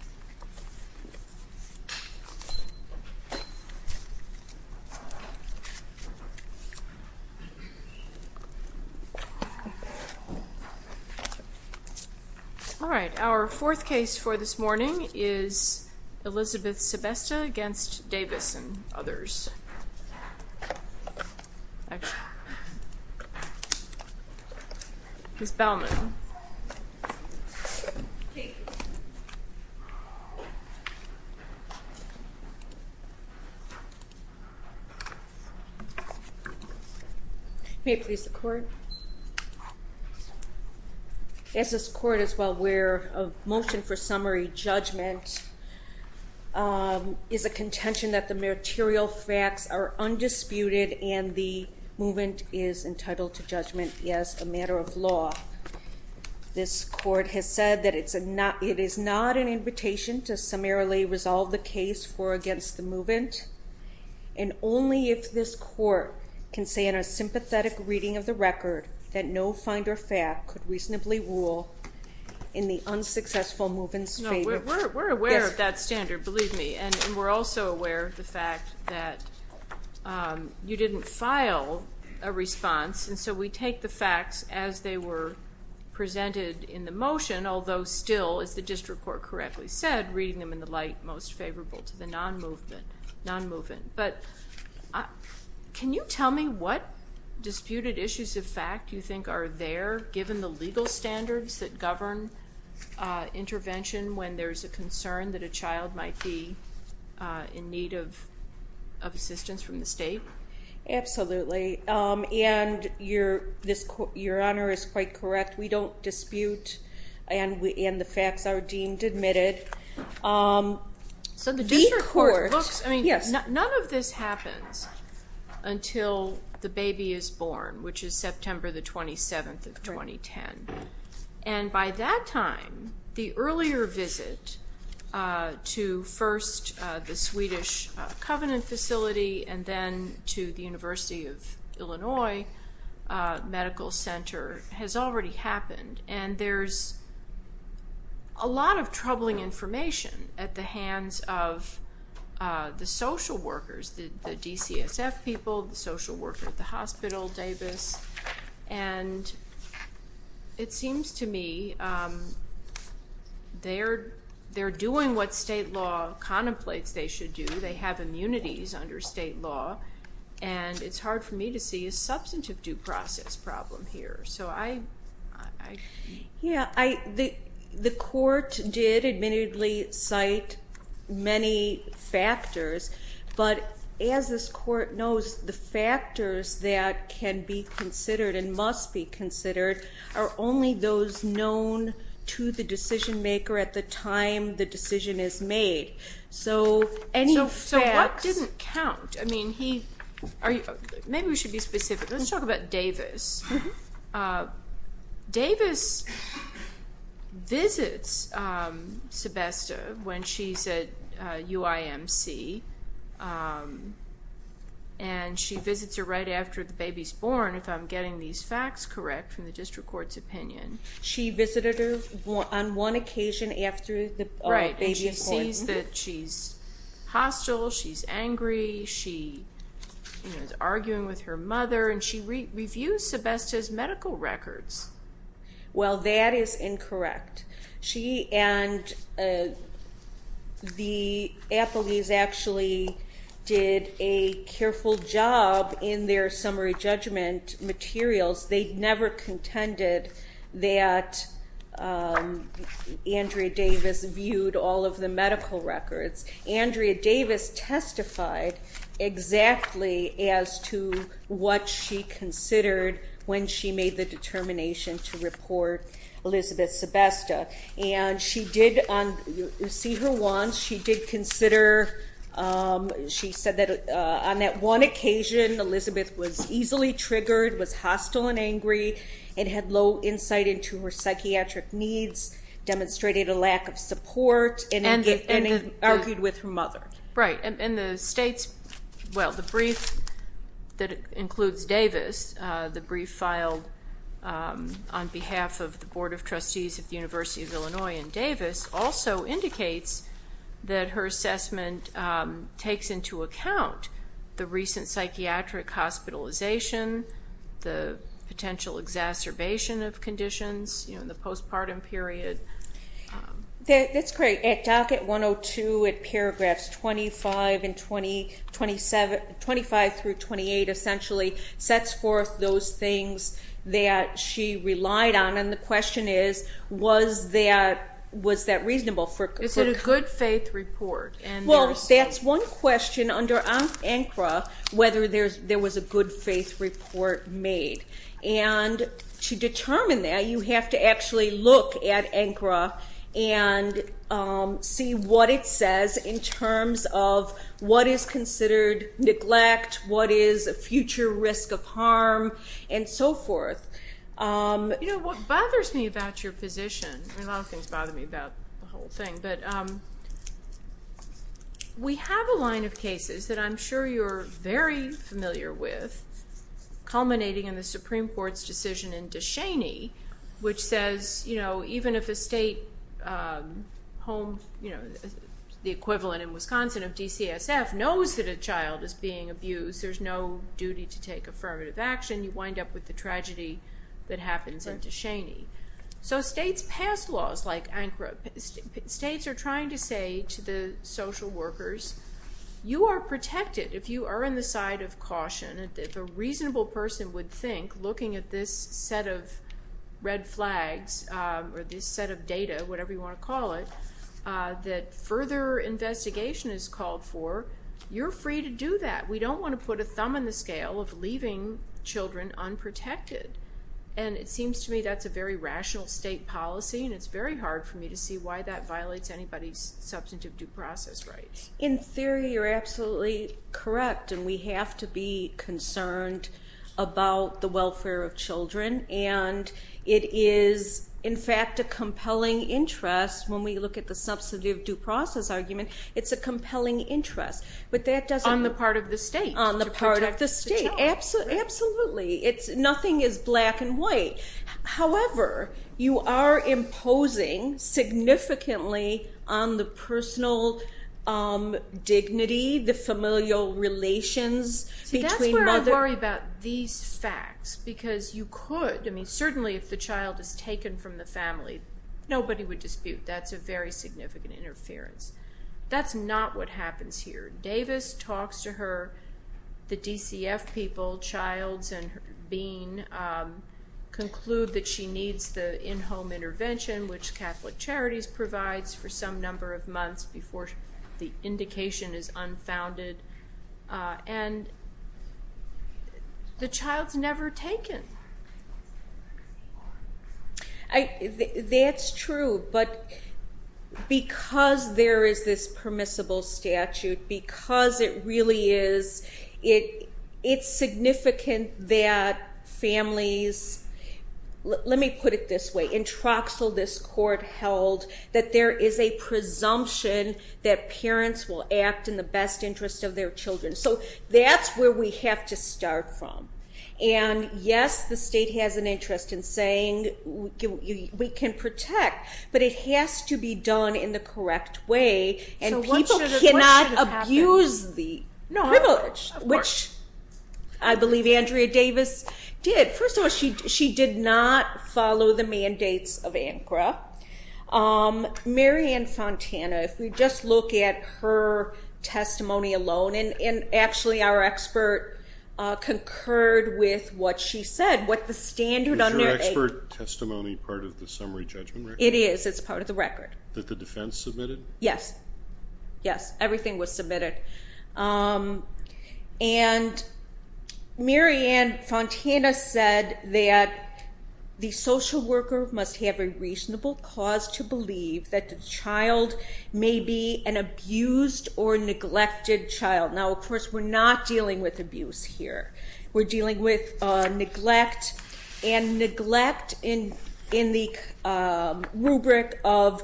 4. Elizabeth Sebesta v. Davis and others. Ms. Baumann. May it please the court. As this court is well aware, a motion for summary judgment is a contention that the meritorial facts are undisputed and the movement is entitled to judgment as a matter of law. This court has said that it is not an invitation to summarily resolve the case for against the movement, and only if this court can say in a sympathetic reading of the record that no finder fact could reasonably rule in the unsuccessful movement's favor. No, we're aware of that standard, believe me, and we're also aware of the fact that you didn't file a response, and so we take the facts as they were presented in the motion, although still, as the district court correctly said, reading them in the light most favorable to the non-movement. But can you tell me what disputed issues of fact you think are there, given the legal standards that govern intervention when there's a concern that a child might be in need of assistance from the state? Absolutely, and your honor is quite correct. We don't dispute, and the facts are deemed admitted. The court, yes. So the district court looks, I mean, none of this happens until the baby is born, which is September the 27th of 2010. And by that time, the earlier visit to first the Swedish Covenant facility and then to the University of Illinois Medical Center has already happened, and there's a lot of troubling information at the hands of the social workers, the DCSF people, the social worker at the hospital, Davis, and it seems to me they're doing what state law contemplates they should do. They have immunities under state law, and it's Yeah, the court did admittedly cite many factors, but as this court knows, the factors that can be considered and must be considered are only those known to the decision maker at the time the decision is made. So any facts... So what didn't count? I mean, maybe we should be specific. Let's talk about Davis. Davis visits Sebesta when she's at UIMC, and she visits her right after the baby's born, if I'm getting these facts correct from the district court's opinion. She visited her on one occasion after the baby was born. Right, and she sees that she's hostile, she's angry, she is arguing with her mother, and she reviews Sebesta's medical records. Well, that is incorrect. She and the Applebees actually did a careful job in their summary judgment materials. They never contended that Andrea Davis viewed all of the medical records. Andrea Davis testified exactly as to what she considered when she made the determination to report Elizabeth Sebesta. And she did, you see her wants, she did consider, she said that on that one occasion, Elizabeth was easily triggered, was hostile and angry, and had low insight into her psychiatric needs, demonstrated a lack of support, and argued with her mother. Right, and the state's, well, the brief that includes Davis, the brief filed on behalf of the Board of Trustees of the University of Illinois and Davis, also indicates that her assessment takes into account the recent psychiatric hospitalization, the potential exacerbation of conditions, you know, in the postpartum period. That's great. At docket 102, at paragraphs 25 and 27, 25 through 28 essentially, sets forth those things that she relied on, and the question is, was that, was that reasonable for- Is it a good faith report? Well, that's one question under ANCRA, whether there was a good faith report made. And to look at ANCRA, and see what it says in terms of what is considered neglect, what is a future risk of harm, and so forth. You know, what bothers me about your position, a lot of things bother me about the whole thing, but we have a line of cases that I'm sure you're very familiar with, culminating in the Supreme Court's decision in Descheny, which says, you know, even if a state home, you know, the equivalent in Wisconsin of DCSF knows that a child is being abused, there's no duty to take affirmative action, you wind up with the tragedy that happens in Descheny. So states pass laws like ANCRA, states are trying to say to the social workers, you are free to think, looking at this set of red flags, or this set of data, whatever you want to call it, that further investigation is called for, you're free to do that. We don't want to put a thumb in the scale of leaving children unprotected. And it seems to me that's a very rational state policy, and it's very hard for me to see why that violates anybody's substantive due process rights. In theory, you're absolutely correct, and we have to be concerned about the welfare of children, and it is, in fact, a compelling interest, when we look at the substantive due process argument, it's a compelling interest, but that doesn't... On the part of the state. On the part of the state, absolutely. Nothing is black and white. However, you are imposing significantly on the personal dignity, the familial relations between mother... See, that's where I worry about these facts, because you could, I mean, certainly if the child is taken from the family, nobody would dispute that's a very significant interference. That's not what happens here. Davis talks to her, the DCF people, Childs and Bean, conclude that she needs the in-home intervention, which Catholic Charities provides for some number of months before the indication is unfounded, and the child's never taken. That's true, but because there is this permissible statute, because it really is, it's significant that families... Let me put it this way. In Troxel, this court held that there is a presumption that parents will act in the best interest of their children, so that's where we have to start from, and yes, the state has an interest in saying we can protect, but it has to be done in the correct way, and people cannot abuse the privilege, which I believe Andrea Davis did. First of all, she did not follow the mandates of ANCRA. Mary Ann Fontana, if we just look at her testimony alone, and actually our expert concurred with what she said, what the standard under... Is your expert testimony part of the summary judgment record? It is. It's part of the record. That the defense submitted? Yes. Yes, everything was submitted, and Mary Ann Fontana said that the social worker must have a reasonable cause to believe that the child may be an abused or neglected child. Now, of course, we're not dealing with abuse here. We're dealing with neglect, and neglect in the rubric of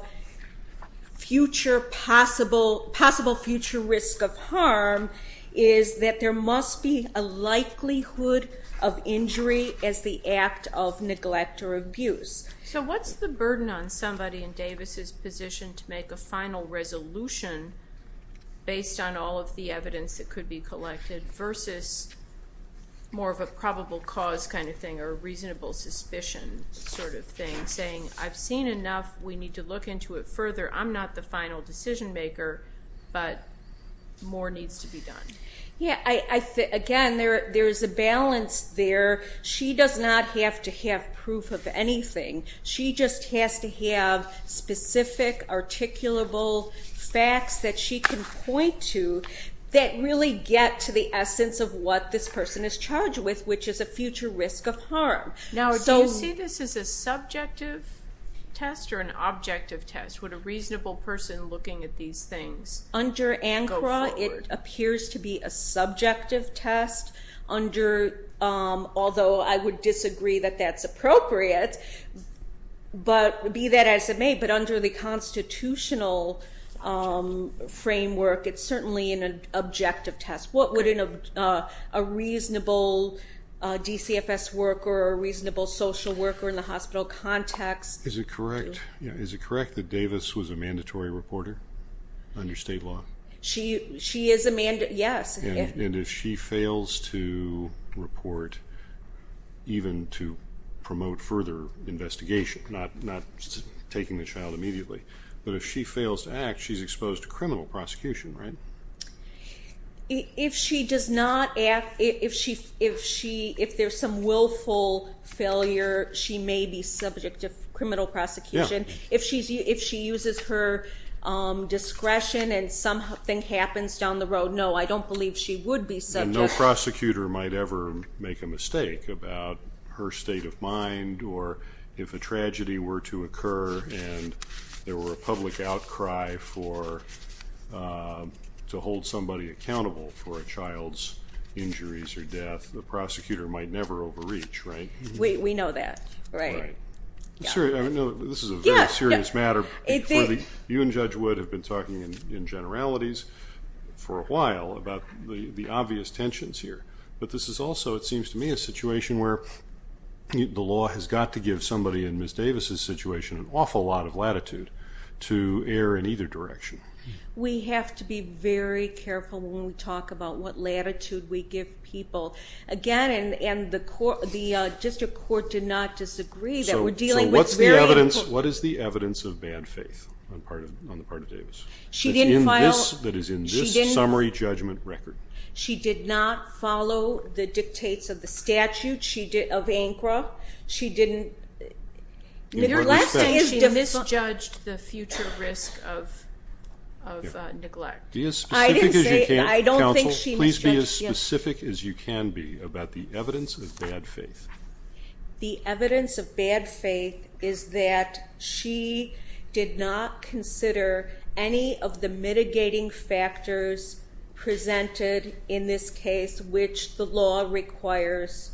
possible future risk of harm is that there must be a likelihood of injury as the act of neglect or abuse. So what's the burden on somebody in Davis's position to make a final resolution based on all of the evidence that could be collected versus more of a probable cause kind of thing or a reasonable suspicion sort of thing, saying, I've seen enough. We need to look into it further. I'm not the final decision maker, but more needs to be done. Again, there's a balance there. She does not have to have proof of anything. She just has to have specific, articulable facts that she can point to that really get to the essence of what this person is charged with, which is a future risk of harm. Now, do you see this as a subjective test or an objective test? Would a reasonable person looking at these things go forward? Under ANCRA, it appears to be a subjective test, although I would disagree that that's appropriate, be that as it may, but under the constitutional framework, it's certainly an objective test. What would a reasonable DCFS worker or a reasonable social worker in the hospital context do? Is it correct that Davis was a mandatory reporter under state law? She is a mandatory, yes. And if she fails to report, even to promote further investigation, not taking the child immediately, but if she fails to act, she's exposed to criminal prosecution, right? If she does not act, if there's some willful failure, she may be subject to criminal prosecution. If she uses her discretion and something happens down the road, no, I don't believe she would be subject. And no prosecutor might ever make a mistake about her state of mind or if a tragedy were to occur and there were a public outcry for, to hold somebody accountable for a child's injuries or death, the prosecutor might never overreach, right? We know that, right. I know this is a very serious matter. You and Judge Wood have been talking in generalities for a while about the obvious tensions here, but this is also, it seems to me, a situation where the law has got to give somebody in Ms. Davis' situation an awful lot of latitude to err in either direction. We have to be very careful when we talk about what latitude we give people. Again, and the district court did not disagree that we're dealing with very important... What is the evidence of bad faith on the part of Davis that is in this summary judgment record? She did not follow the dictates of the statute of ANCRA. She didn't... Your last statement, she misjudged the future risk of neglect. I didn't say, I don't think she misjudged, yes. Please be as specific as you can be about the evidence of bad faith. The evidence of bad faith is that she did not consider any of the mitigating factors presented in this case, which the law requires.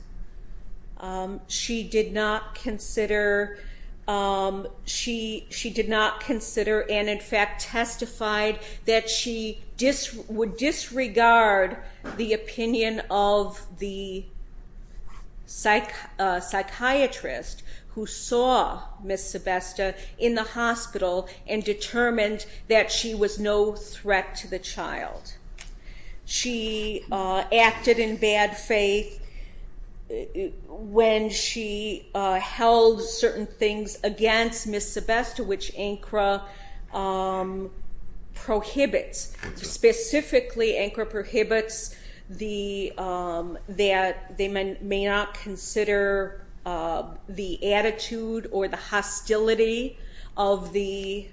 She did not consider, and in fact testified that she would disregard the opinion of the psychiatrist who saw Ms. Sebesta in the hospital and determined that she was no threat to the child. She acted in bad faith when she held certain things against Ms. Sebesta, which ANCRA prohibits. Specifically ANCRA prohibits that they may not consider the attitude or the hostility of the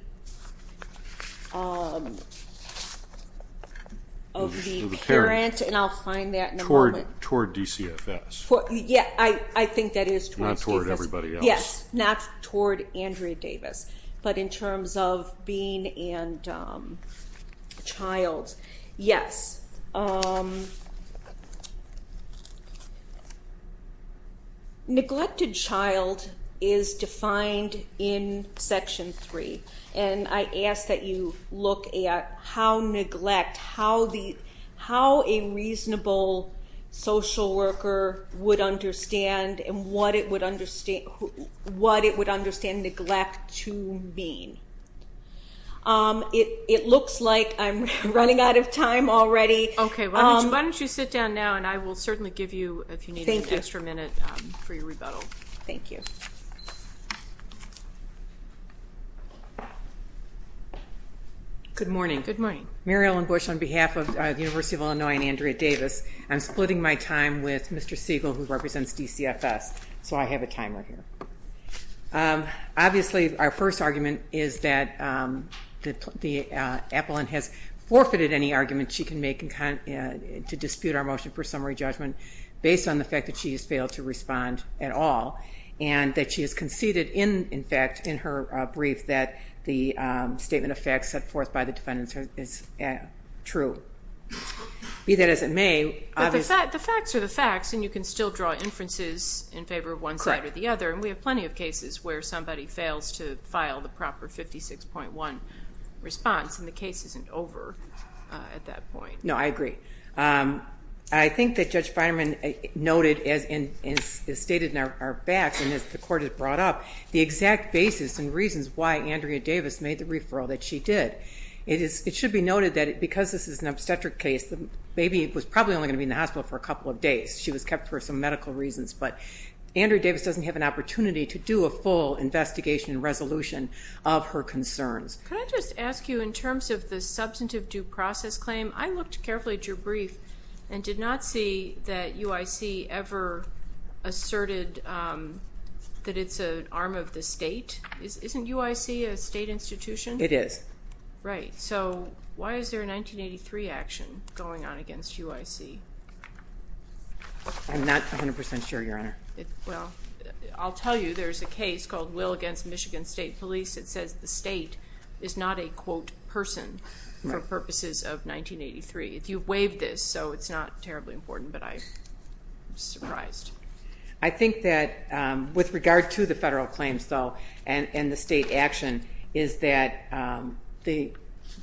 parent, and I'll find that in a moment. Toward DCFS. Yeah, I think that is towards Davis. Not toward everybody else. Yes, not toward Andrea Davis, but in terms of being and child. Yes. Neglected child is defined in Section 3, and I ask that you look at how neglect, how a reasonable social worker would understand and what it would understand neglect to mean. It looks like I'm running out of time already. Okay, why don't you sit down now, and I will certainly give you, if you need an extra minute for your rebuttal. Thank you. Good morning. Good morning. Mary Ellen Bush on behalf of the University of Illinois and Andrea Davis. I'm splitting my time with Mr. Siegel, who represents DCFS, so I have a timer here. Obviously, our first argument is that Appolin has forfeited any argument she can make to dispute our motion for summary judgment based on the fact that she has failed to respond at all, and that she has conceded, in fact, in her brief, that the statement of facts set forth by the defendants is true. Be that as it may. The facts are the facts, and you can still draw inferences in favor of one side or the other, and we have plenty of cases where somebody fails to file the proper 56.1 response, and the case isn't over at that point. No, I agree. I think that Judge Feinman noted and stated in our back, and as the Court has brought up, the exact basis and reasons why Andrea Davis made the referral that she did. It should be noted that because this is an obstetric case, the baby was probably only going to be in the hospital for a couple of days. She was kept for some medical reasons, but Andrea Davis doesn't have an opportunity to do a full investigation and resolution of her concerns. Can I just ask you, in terms of the substantive due process claim, I looked carefully at your brief and did not see that UIC ever asserted that it's an arm of the state. Isn't UIC a state institution? It is. Right, so why is there a 1983 action going on against UIC? I'm not 100% sure, Your Honor. Well, I'll tell you, there's a case called Will against Michigan State Police. It says the state is not a, quote, person for purposes of 1983. You've waived this, so it's not terribly important, but I'm surprised. I think that with regard to the federal claims, though, and the state action, is that the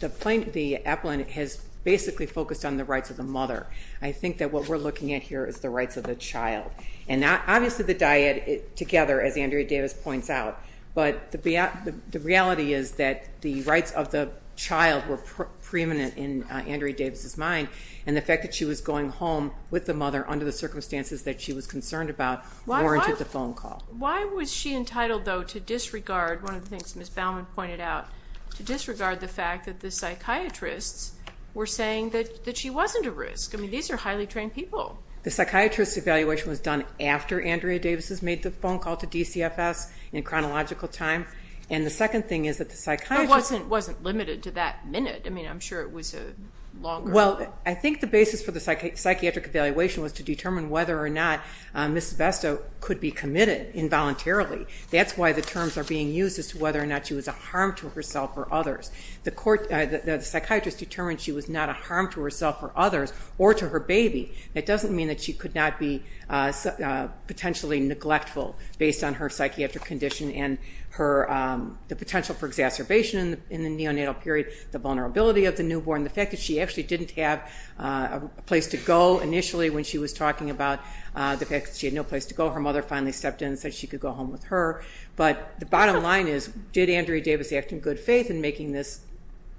appellant has basically focused on the rights of the mother. I think that what we're looking at here is the rights of the child, and obviously the diet together, as Andrea Davis points out, but the reality is that the rights of the child were preeminent in Andrea Davis's mind, and the fact that she was going home with the mother under the circumstances that she was concerned about warranted the phone call. Why was she entitled, though, to disregard one of the things Ms. Baumann pointed out, to disregard the fact that the psychiatrists were saying that she wasn't a risk? I mean, these are highly trained people. The psychiatrist's evaluation was done after Andrea Davis's made the phone call to DCFS in chronological time, and the second thing is that the psychiatrists... But it wasn't limited to that minute. I mean, I'm sure it was a longer... Well, I think the basis for the psychiatric evaluation was to determine whether or not Ms. Besto could be committed involuntarily. That's why the terms are being used as to whether or not she was a harm to herself or others. The psychiatrist determined she was not a harm to herself or others or to her baby. That doesn't mean that she could not be potentially neglectful based on her psychiatric condition and the potential for exacerbation in the neonatal period, the vulnerability of the newborn, the fact that she actually didn't have a place to go initially when she was talking about the fact that she had no place to go. Her mother finally stepped in and said she could go home with her. But the bottom line is, did Andrea Davis act in good faith in making this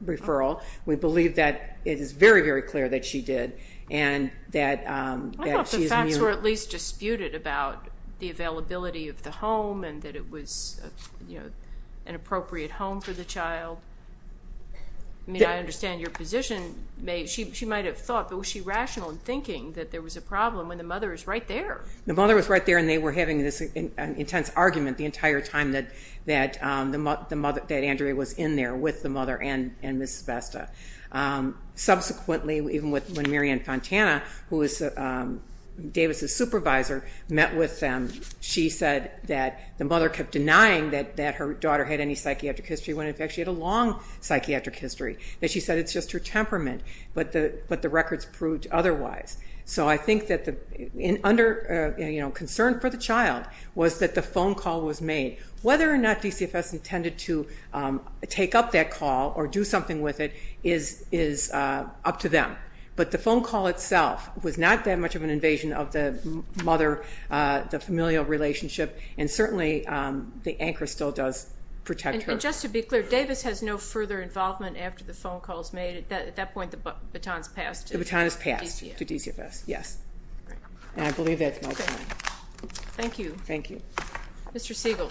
referral? We believe that it is very, very clear that she did and that she is immune. I thought the facts were at least disputed about the availability of the home and that it was an appropriate home for the child. I mean, I understand your position. She might have thought, but was she rational in thinking that there was a problem when the mother is right there? The mother was right there, and they were having this intense argument the entire time that Andrea was in there with the mother and Ms. Sebesta. Subsequently, even when Mary Ann Fontana, who was Davis's supervisor, met with them, she said that the mother kept denying that her daughter had any psychiatric history when, in fact, she had a long psychiatric history, that she said it's just her temperament, but the records proved otherwise. So I think that the concern for the child was that the phone call was made. Whether or not DCFS intended to take up that call or do something with it is up to them. But the phone call itself was not that much of an invasion of the mother, the familial relationship, and certainly the anchor still does protect her. And just to be clear, Davis has no further involvement after the phone call is made. At that point, the baton is passed to DCFS. Yes. And I believe that's my point. Thank you. Thank you. Mr. Siegel.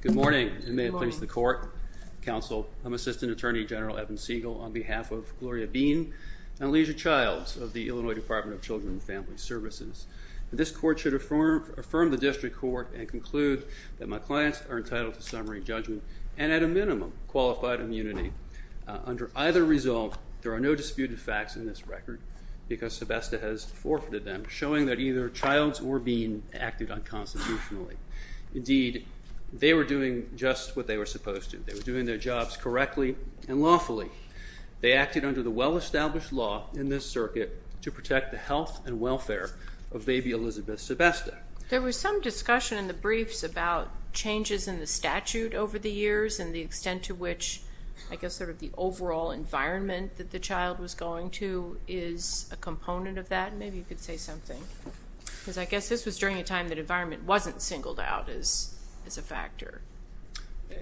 Good morning, and may it please the Court, Counsel. I'm Assistant Attorney General Evan Siegel on behalf of Gloria Bean and Alicia Childs of the Illinois Department of Children and Family Services. This Court should affirm the district court and conclude that my clients are entitled to summary judgment and at a minimum qualified immunity. Under either result, there are no disputed facts in this record because Sebesta has forfeited them, showing that either Childs or Bean acted unconstitutionally. Indeed, they were doing just what they were supposed to. They were doing their jobs correctly and lawfully. They acted under the well-established law in this circuit to protect the health and welfare of baby Elizabeth Sebesta. There was some discussion in the briefs about changes in the statute over the years and the extent to which I guess sort of the overall environment that the child was going to is a component of that. Maybe you could say something because I guess this was during a time that environment wasn't singled out as a factor.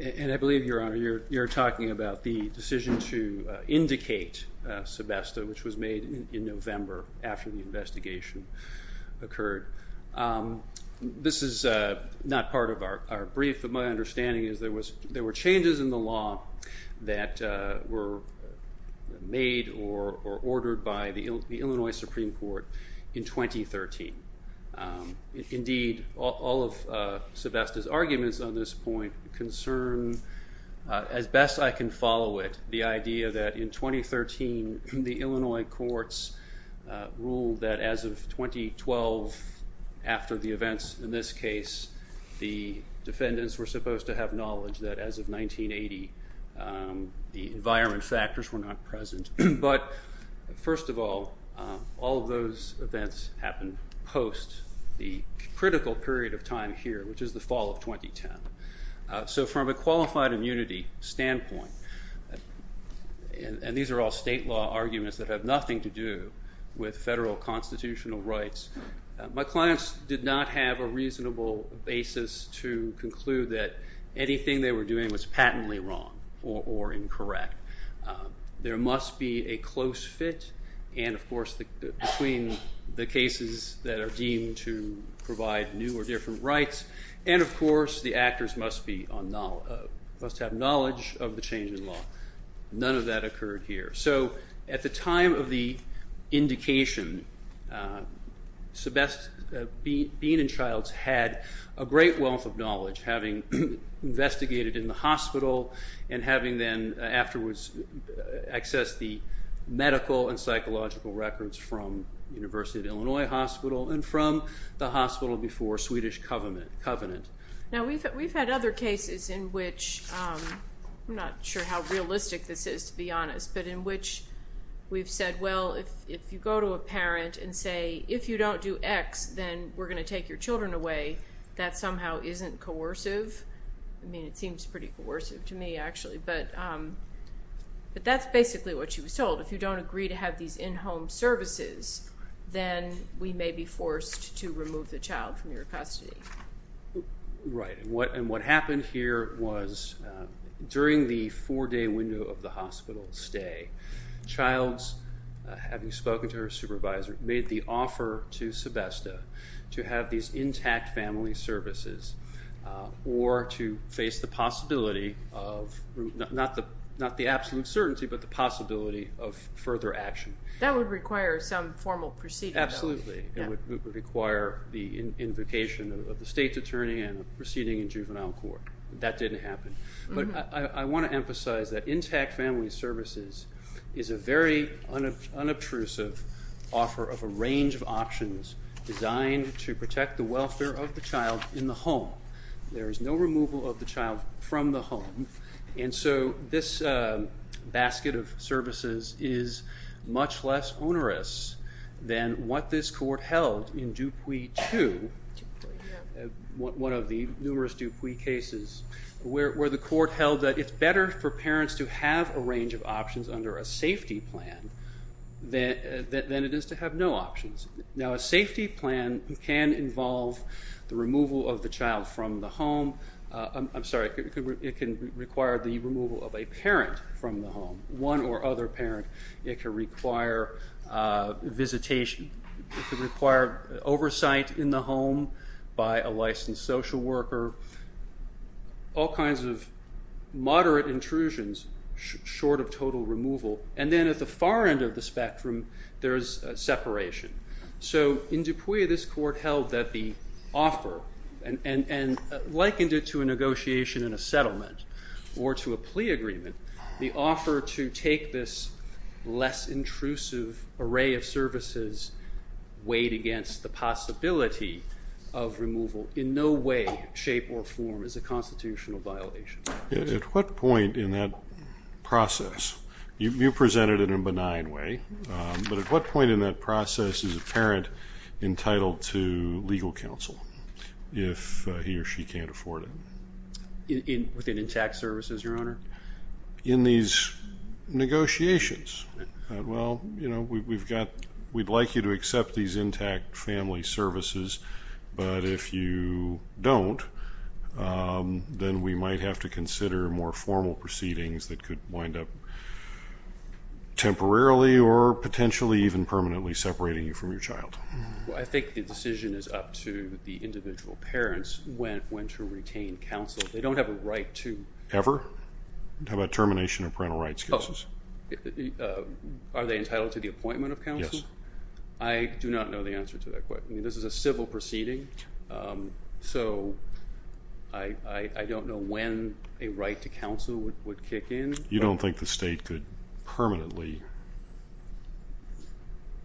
And I believe, Your Honor, you're talking about the decision to indicate Sebesta, which was made in November after the investigation occurred. This is not part of our brief, but my understanding is there were changes in the law that were made or ordered by the Illinois Supreme Court in 2013. Indeed, all of Sebesta's arguments on this point concern, as best I can follow it, the idea that in 2013 the Illinois courts ruled that as of 2012 after the events in this case, the defendants were supposed to have knowledge that as of 1980 the environment factors were not present. But first of all, all of those events happened post the critical period of time here, which is the fall of 2010. So from a qualified immunity standpoint, and these are all state law arguments that have nothing to do with federal constitutional rights, my clients did not have a reasonable basis to conclude that anything they were doing was patently wrong or incorrect. There must be a close fit, and of course between the cases that are deemed to provide new or different rights, and of course the actors must have knowledge of the change in law. None of that occurred here. So at the time of the indication, Beane and Childs had a great wealth of knowledge, having investigated in the hospital and having then afterwards accessed the medical and psychological records from the University of Illinois Hospital and from the hospital before Swedish covenant. Now we've had other cases in which, I'm not sure how realistic this is to be honest, but in which we've said, well, if you go to a parent and say, if you don't do X, then we're going to take your children away, that somehow isn't coercive. I mean it seems pretty coercive to me actually, but that's basically what she was told. If you don't agree to have these in-home services, then we may be forced to remove the child from your custody. Right, and what happened here was during the four-day window of the hospital stay, Childs, having spoken to her supervisor, made the offer to Sebesta to have these intact family services or to face the possibility of, not the absolute certainty, but the possibility of further action. That would require some formal proceeding. Absolutely. It would require the invocation of the state's attorney and a proceeding in juvenile court. That didn't happen. I want to emphasize that intact family services is a very unobtrusive offer of a range of options designed to protect the welfare of the child in the home. There is no removal of the child from the home, and so this basket of services is much less onerous than what this court held in Dupuy 2, one of the numerous Dupuy cases where the court held that it's better for parents to have a range of options under a safety plan than it is to have no options. Now, a safety plan can involve the removal of the child from the home. I'm sorry, it can require the removal of a parent from the home, one or other parent. It can require visitation. It can require oversight in the home by a licensed social worker, all kinds of moderate intrusions short of total removal. And then at the far end of the spectrum, there's separation. So in Dupuy, this court held that the offer and likened it to a negotiation in a settlement or to a plea agreement. The offer to take this less intrusive array of services weighed against the possibility of removal in no way, shape, or form is a constitutional violation. At what point in that process, you presented it in a benign way, but at what point in that process is a parent entitled to legal counsel if he or she can't afford it? Within intact services, Your Honor? In these negotiations. Well, you know, we'd like you to accept these intact family services, but if you don't, then we might have to consider more formal proceedings that could wind up temporarily or potentially even permanently separating you from your child. Well, I think the decision is up to the individual parents when to retain counsel. They don't have a right to. Ever? How about termination of parental rights cases? Are they entitled to the appointment of counsel? Yes. I do not know the answer to that question. This is a civil proceeding, so I don't know when a right to counsel would kick in. You don't think the state could permanently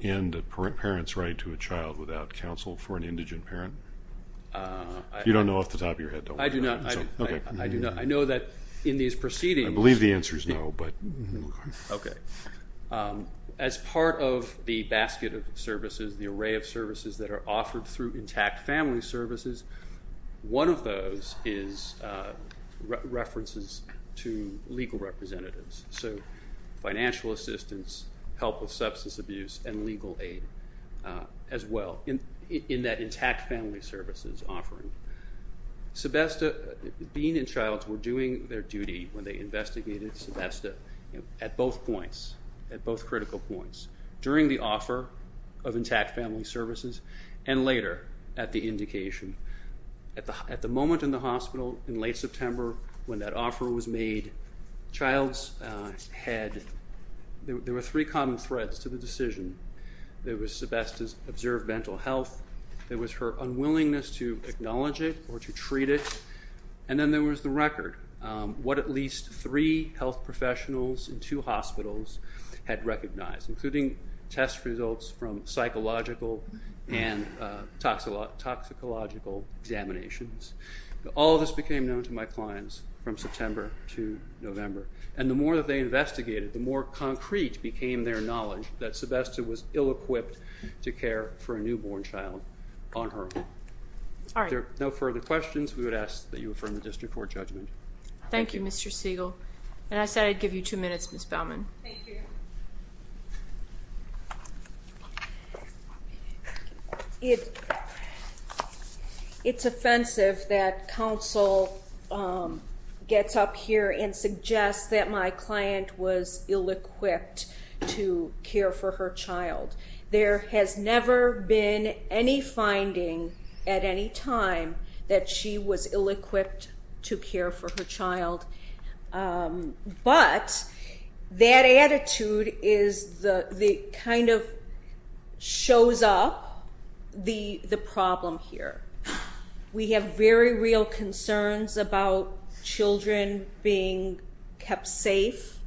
end a parent's right to a child without counsel for an indigent parent? You don't know off the top of your head, don't you? I do not. Okay. I do not. I know that in these proceedings. I believe the answer is no, but. Okay. As part of the basket of services, the array of services that are offered through intact family services, one of those is references to legal representatives, so financial assistance, help with substance abuse, and legal aid as well in that intact family services offering. Sebesta, Bean and Childs were doing their duty when they investigated Sebesta at both points, at both critical points, during the offer of intact family services and later at the indication. At the moment in the hospital in late September when that offer was made, Childs had three common threads to the decision. There was Sebesta's observed mental health. There was her unwillingness to acknowledge it or to treat it. And then there was the record, what at least three health professionals in two hospitals had recognized, including test results from psychological and toxicological examinations. All of this became known to my clients from September to November, and the more that they investigated, the more concrete became their knowledge that Sebesta was ill-equipped to care for a newborn child on her own. All right. If there are no further questions, we would ask that you affirm the district court judgment. Thank you, Mr. Siegel. And I said I'd give you two minutes, Ms. Baumann. Thank you. It's offensive that counsel gets up here and suggests that my client was ill-equipped to care for her child. There has never been any finding at any time that she was ill-equipped to care for her child. But that attitude kind of shows up the problem here. We have very real concerns about children being kept safe,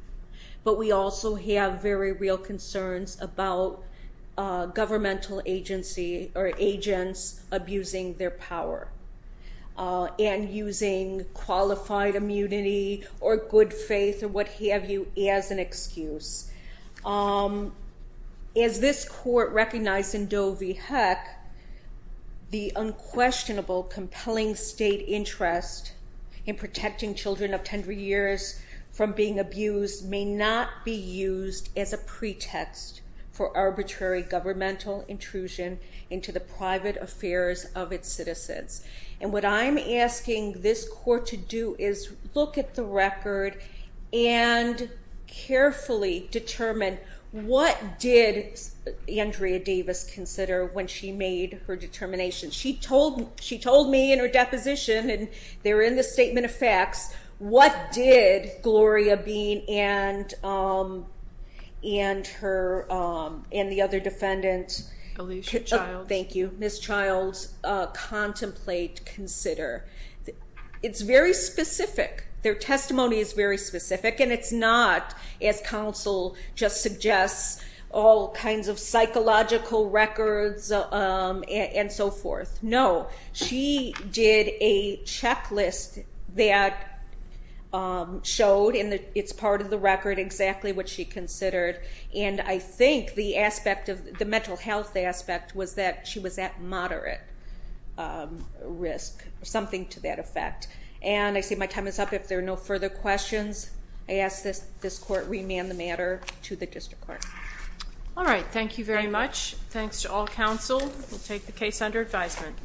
but we also have very real concerns about governmental agency or agents abusing their power and using qualified immunity or good faith or what have you as an excuse. As this court recognized in Doe v. Heck, the unquestionable compelling state interest in protecting children of tender years from being abused may not be used as a pretext for arbitrary governmental intrusion into the private affairs of its citizens. And what I'm asking this court to do is look at the record and carefully determine what did Andrea Davis consider when she made her determination. She told me in her deposition, and they're in the statement of facts, what did Gloria Bean and the other defendant, Miss Childs, contemplate, consider. It's very specific. Their testimony is very specific, and it's not, as counsel just suggests, all kinds of psychological records and so forth. No. She did a checklist that showed, and it's part of the record, exactly what she considered. And I think the mental health aspect was that she was at moderate risk, something to that effect. And I see my time is up. If there are no further questions, I ask this court remand the matter to the district court. All right. Thank you very much. Thanks to all counsel. We'll take the case under advisement.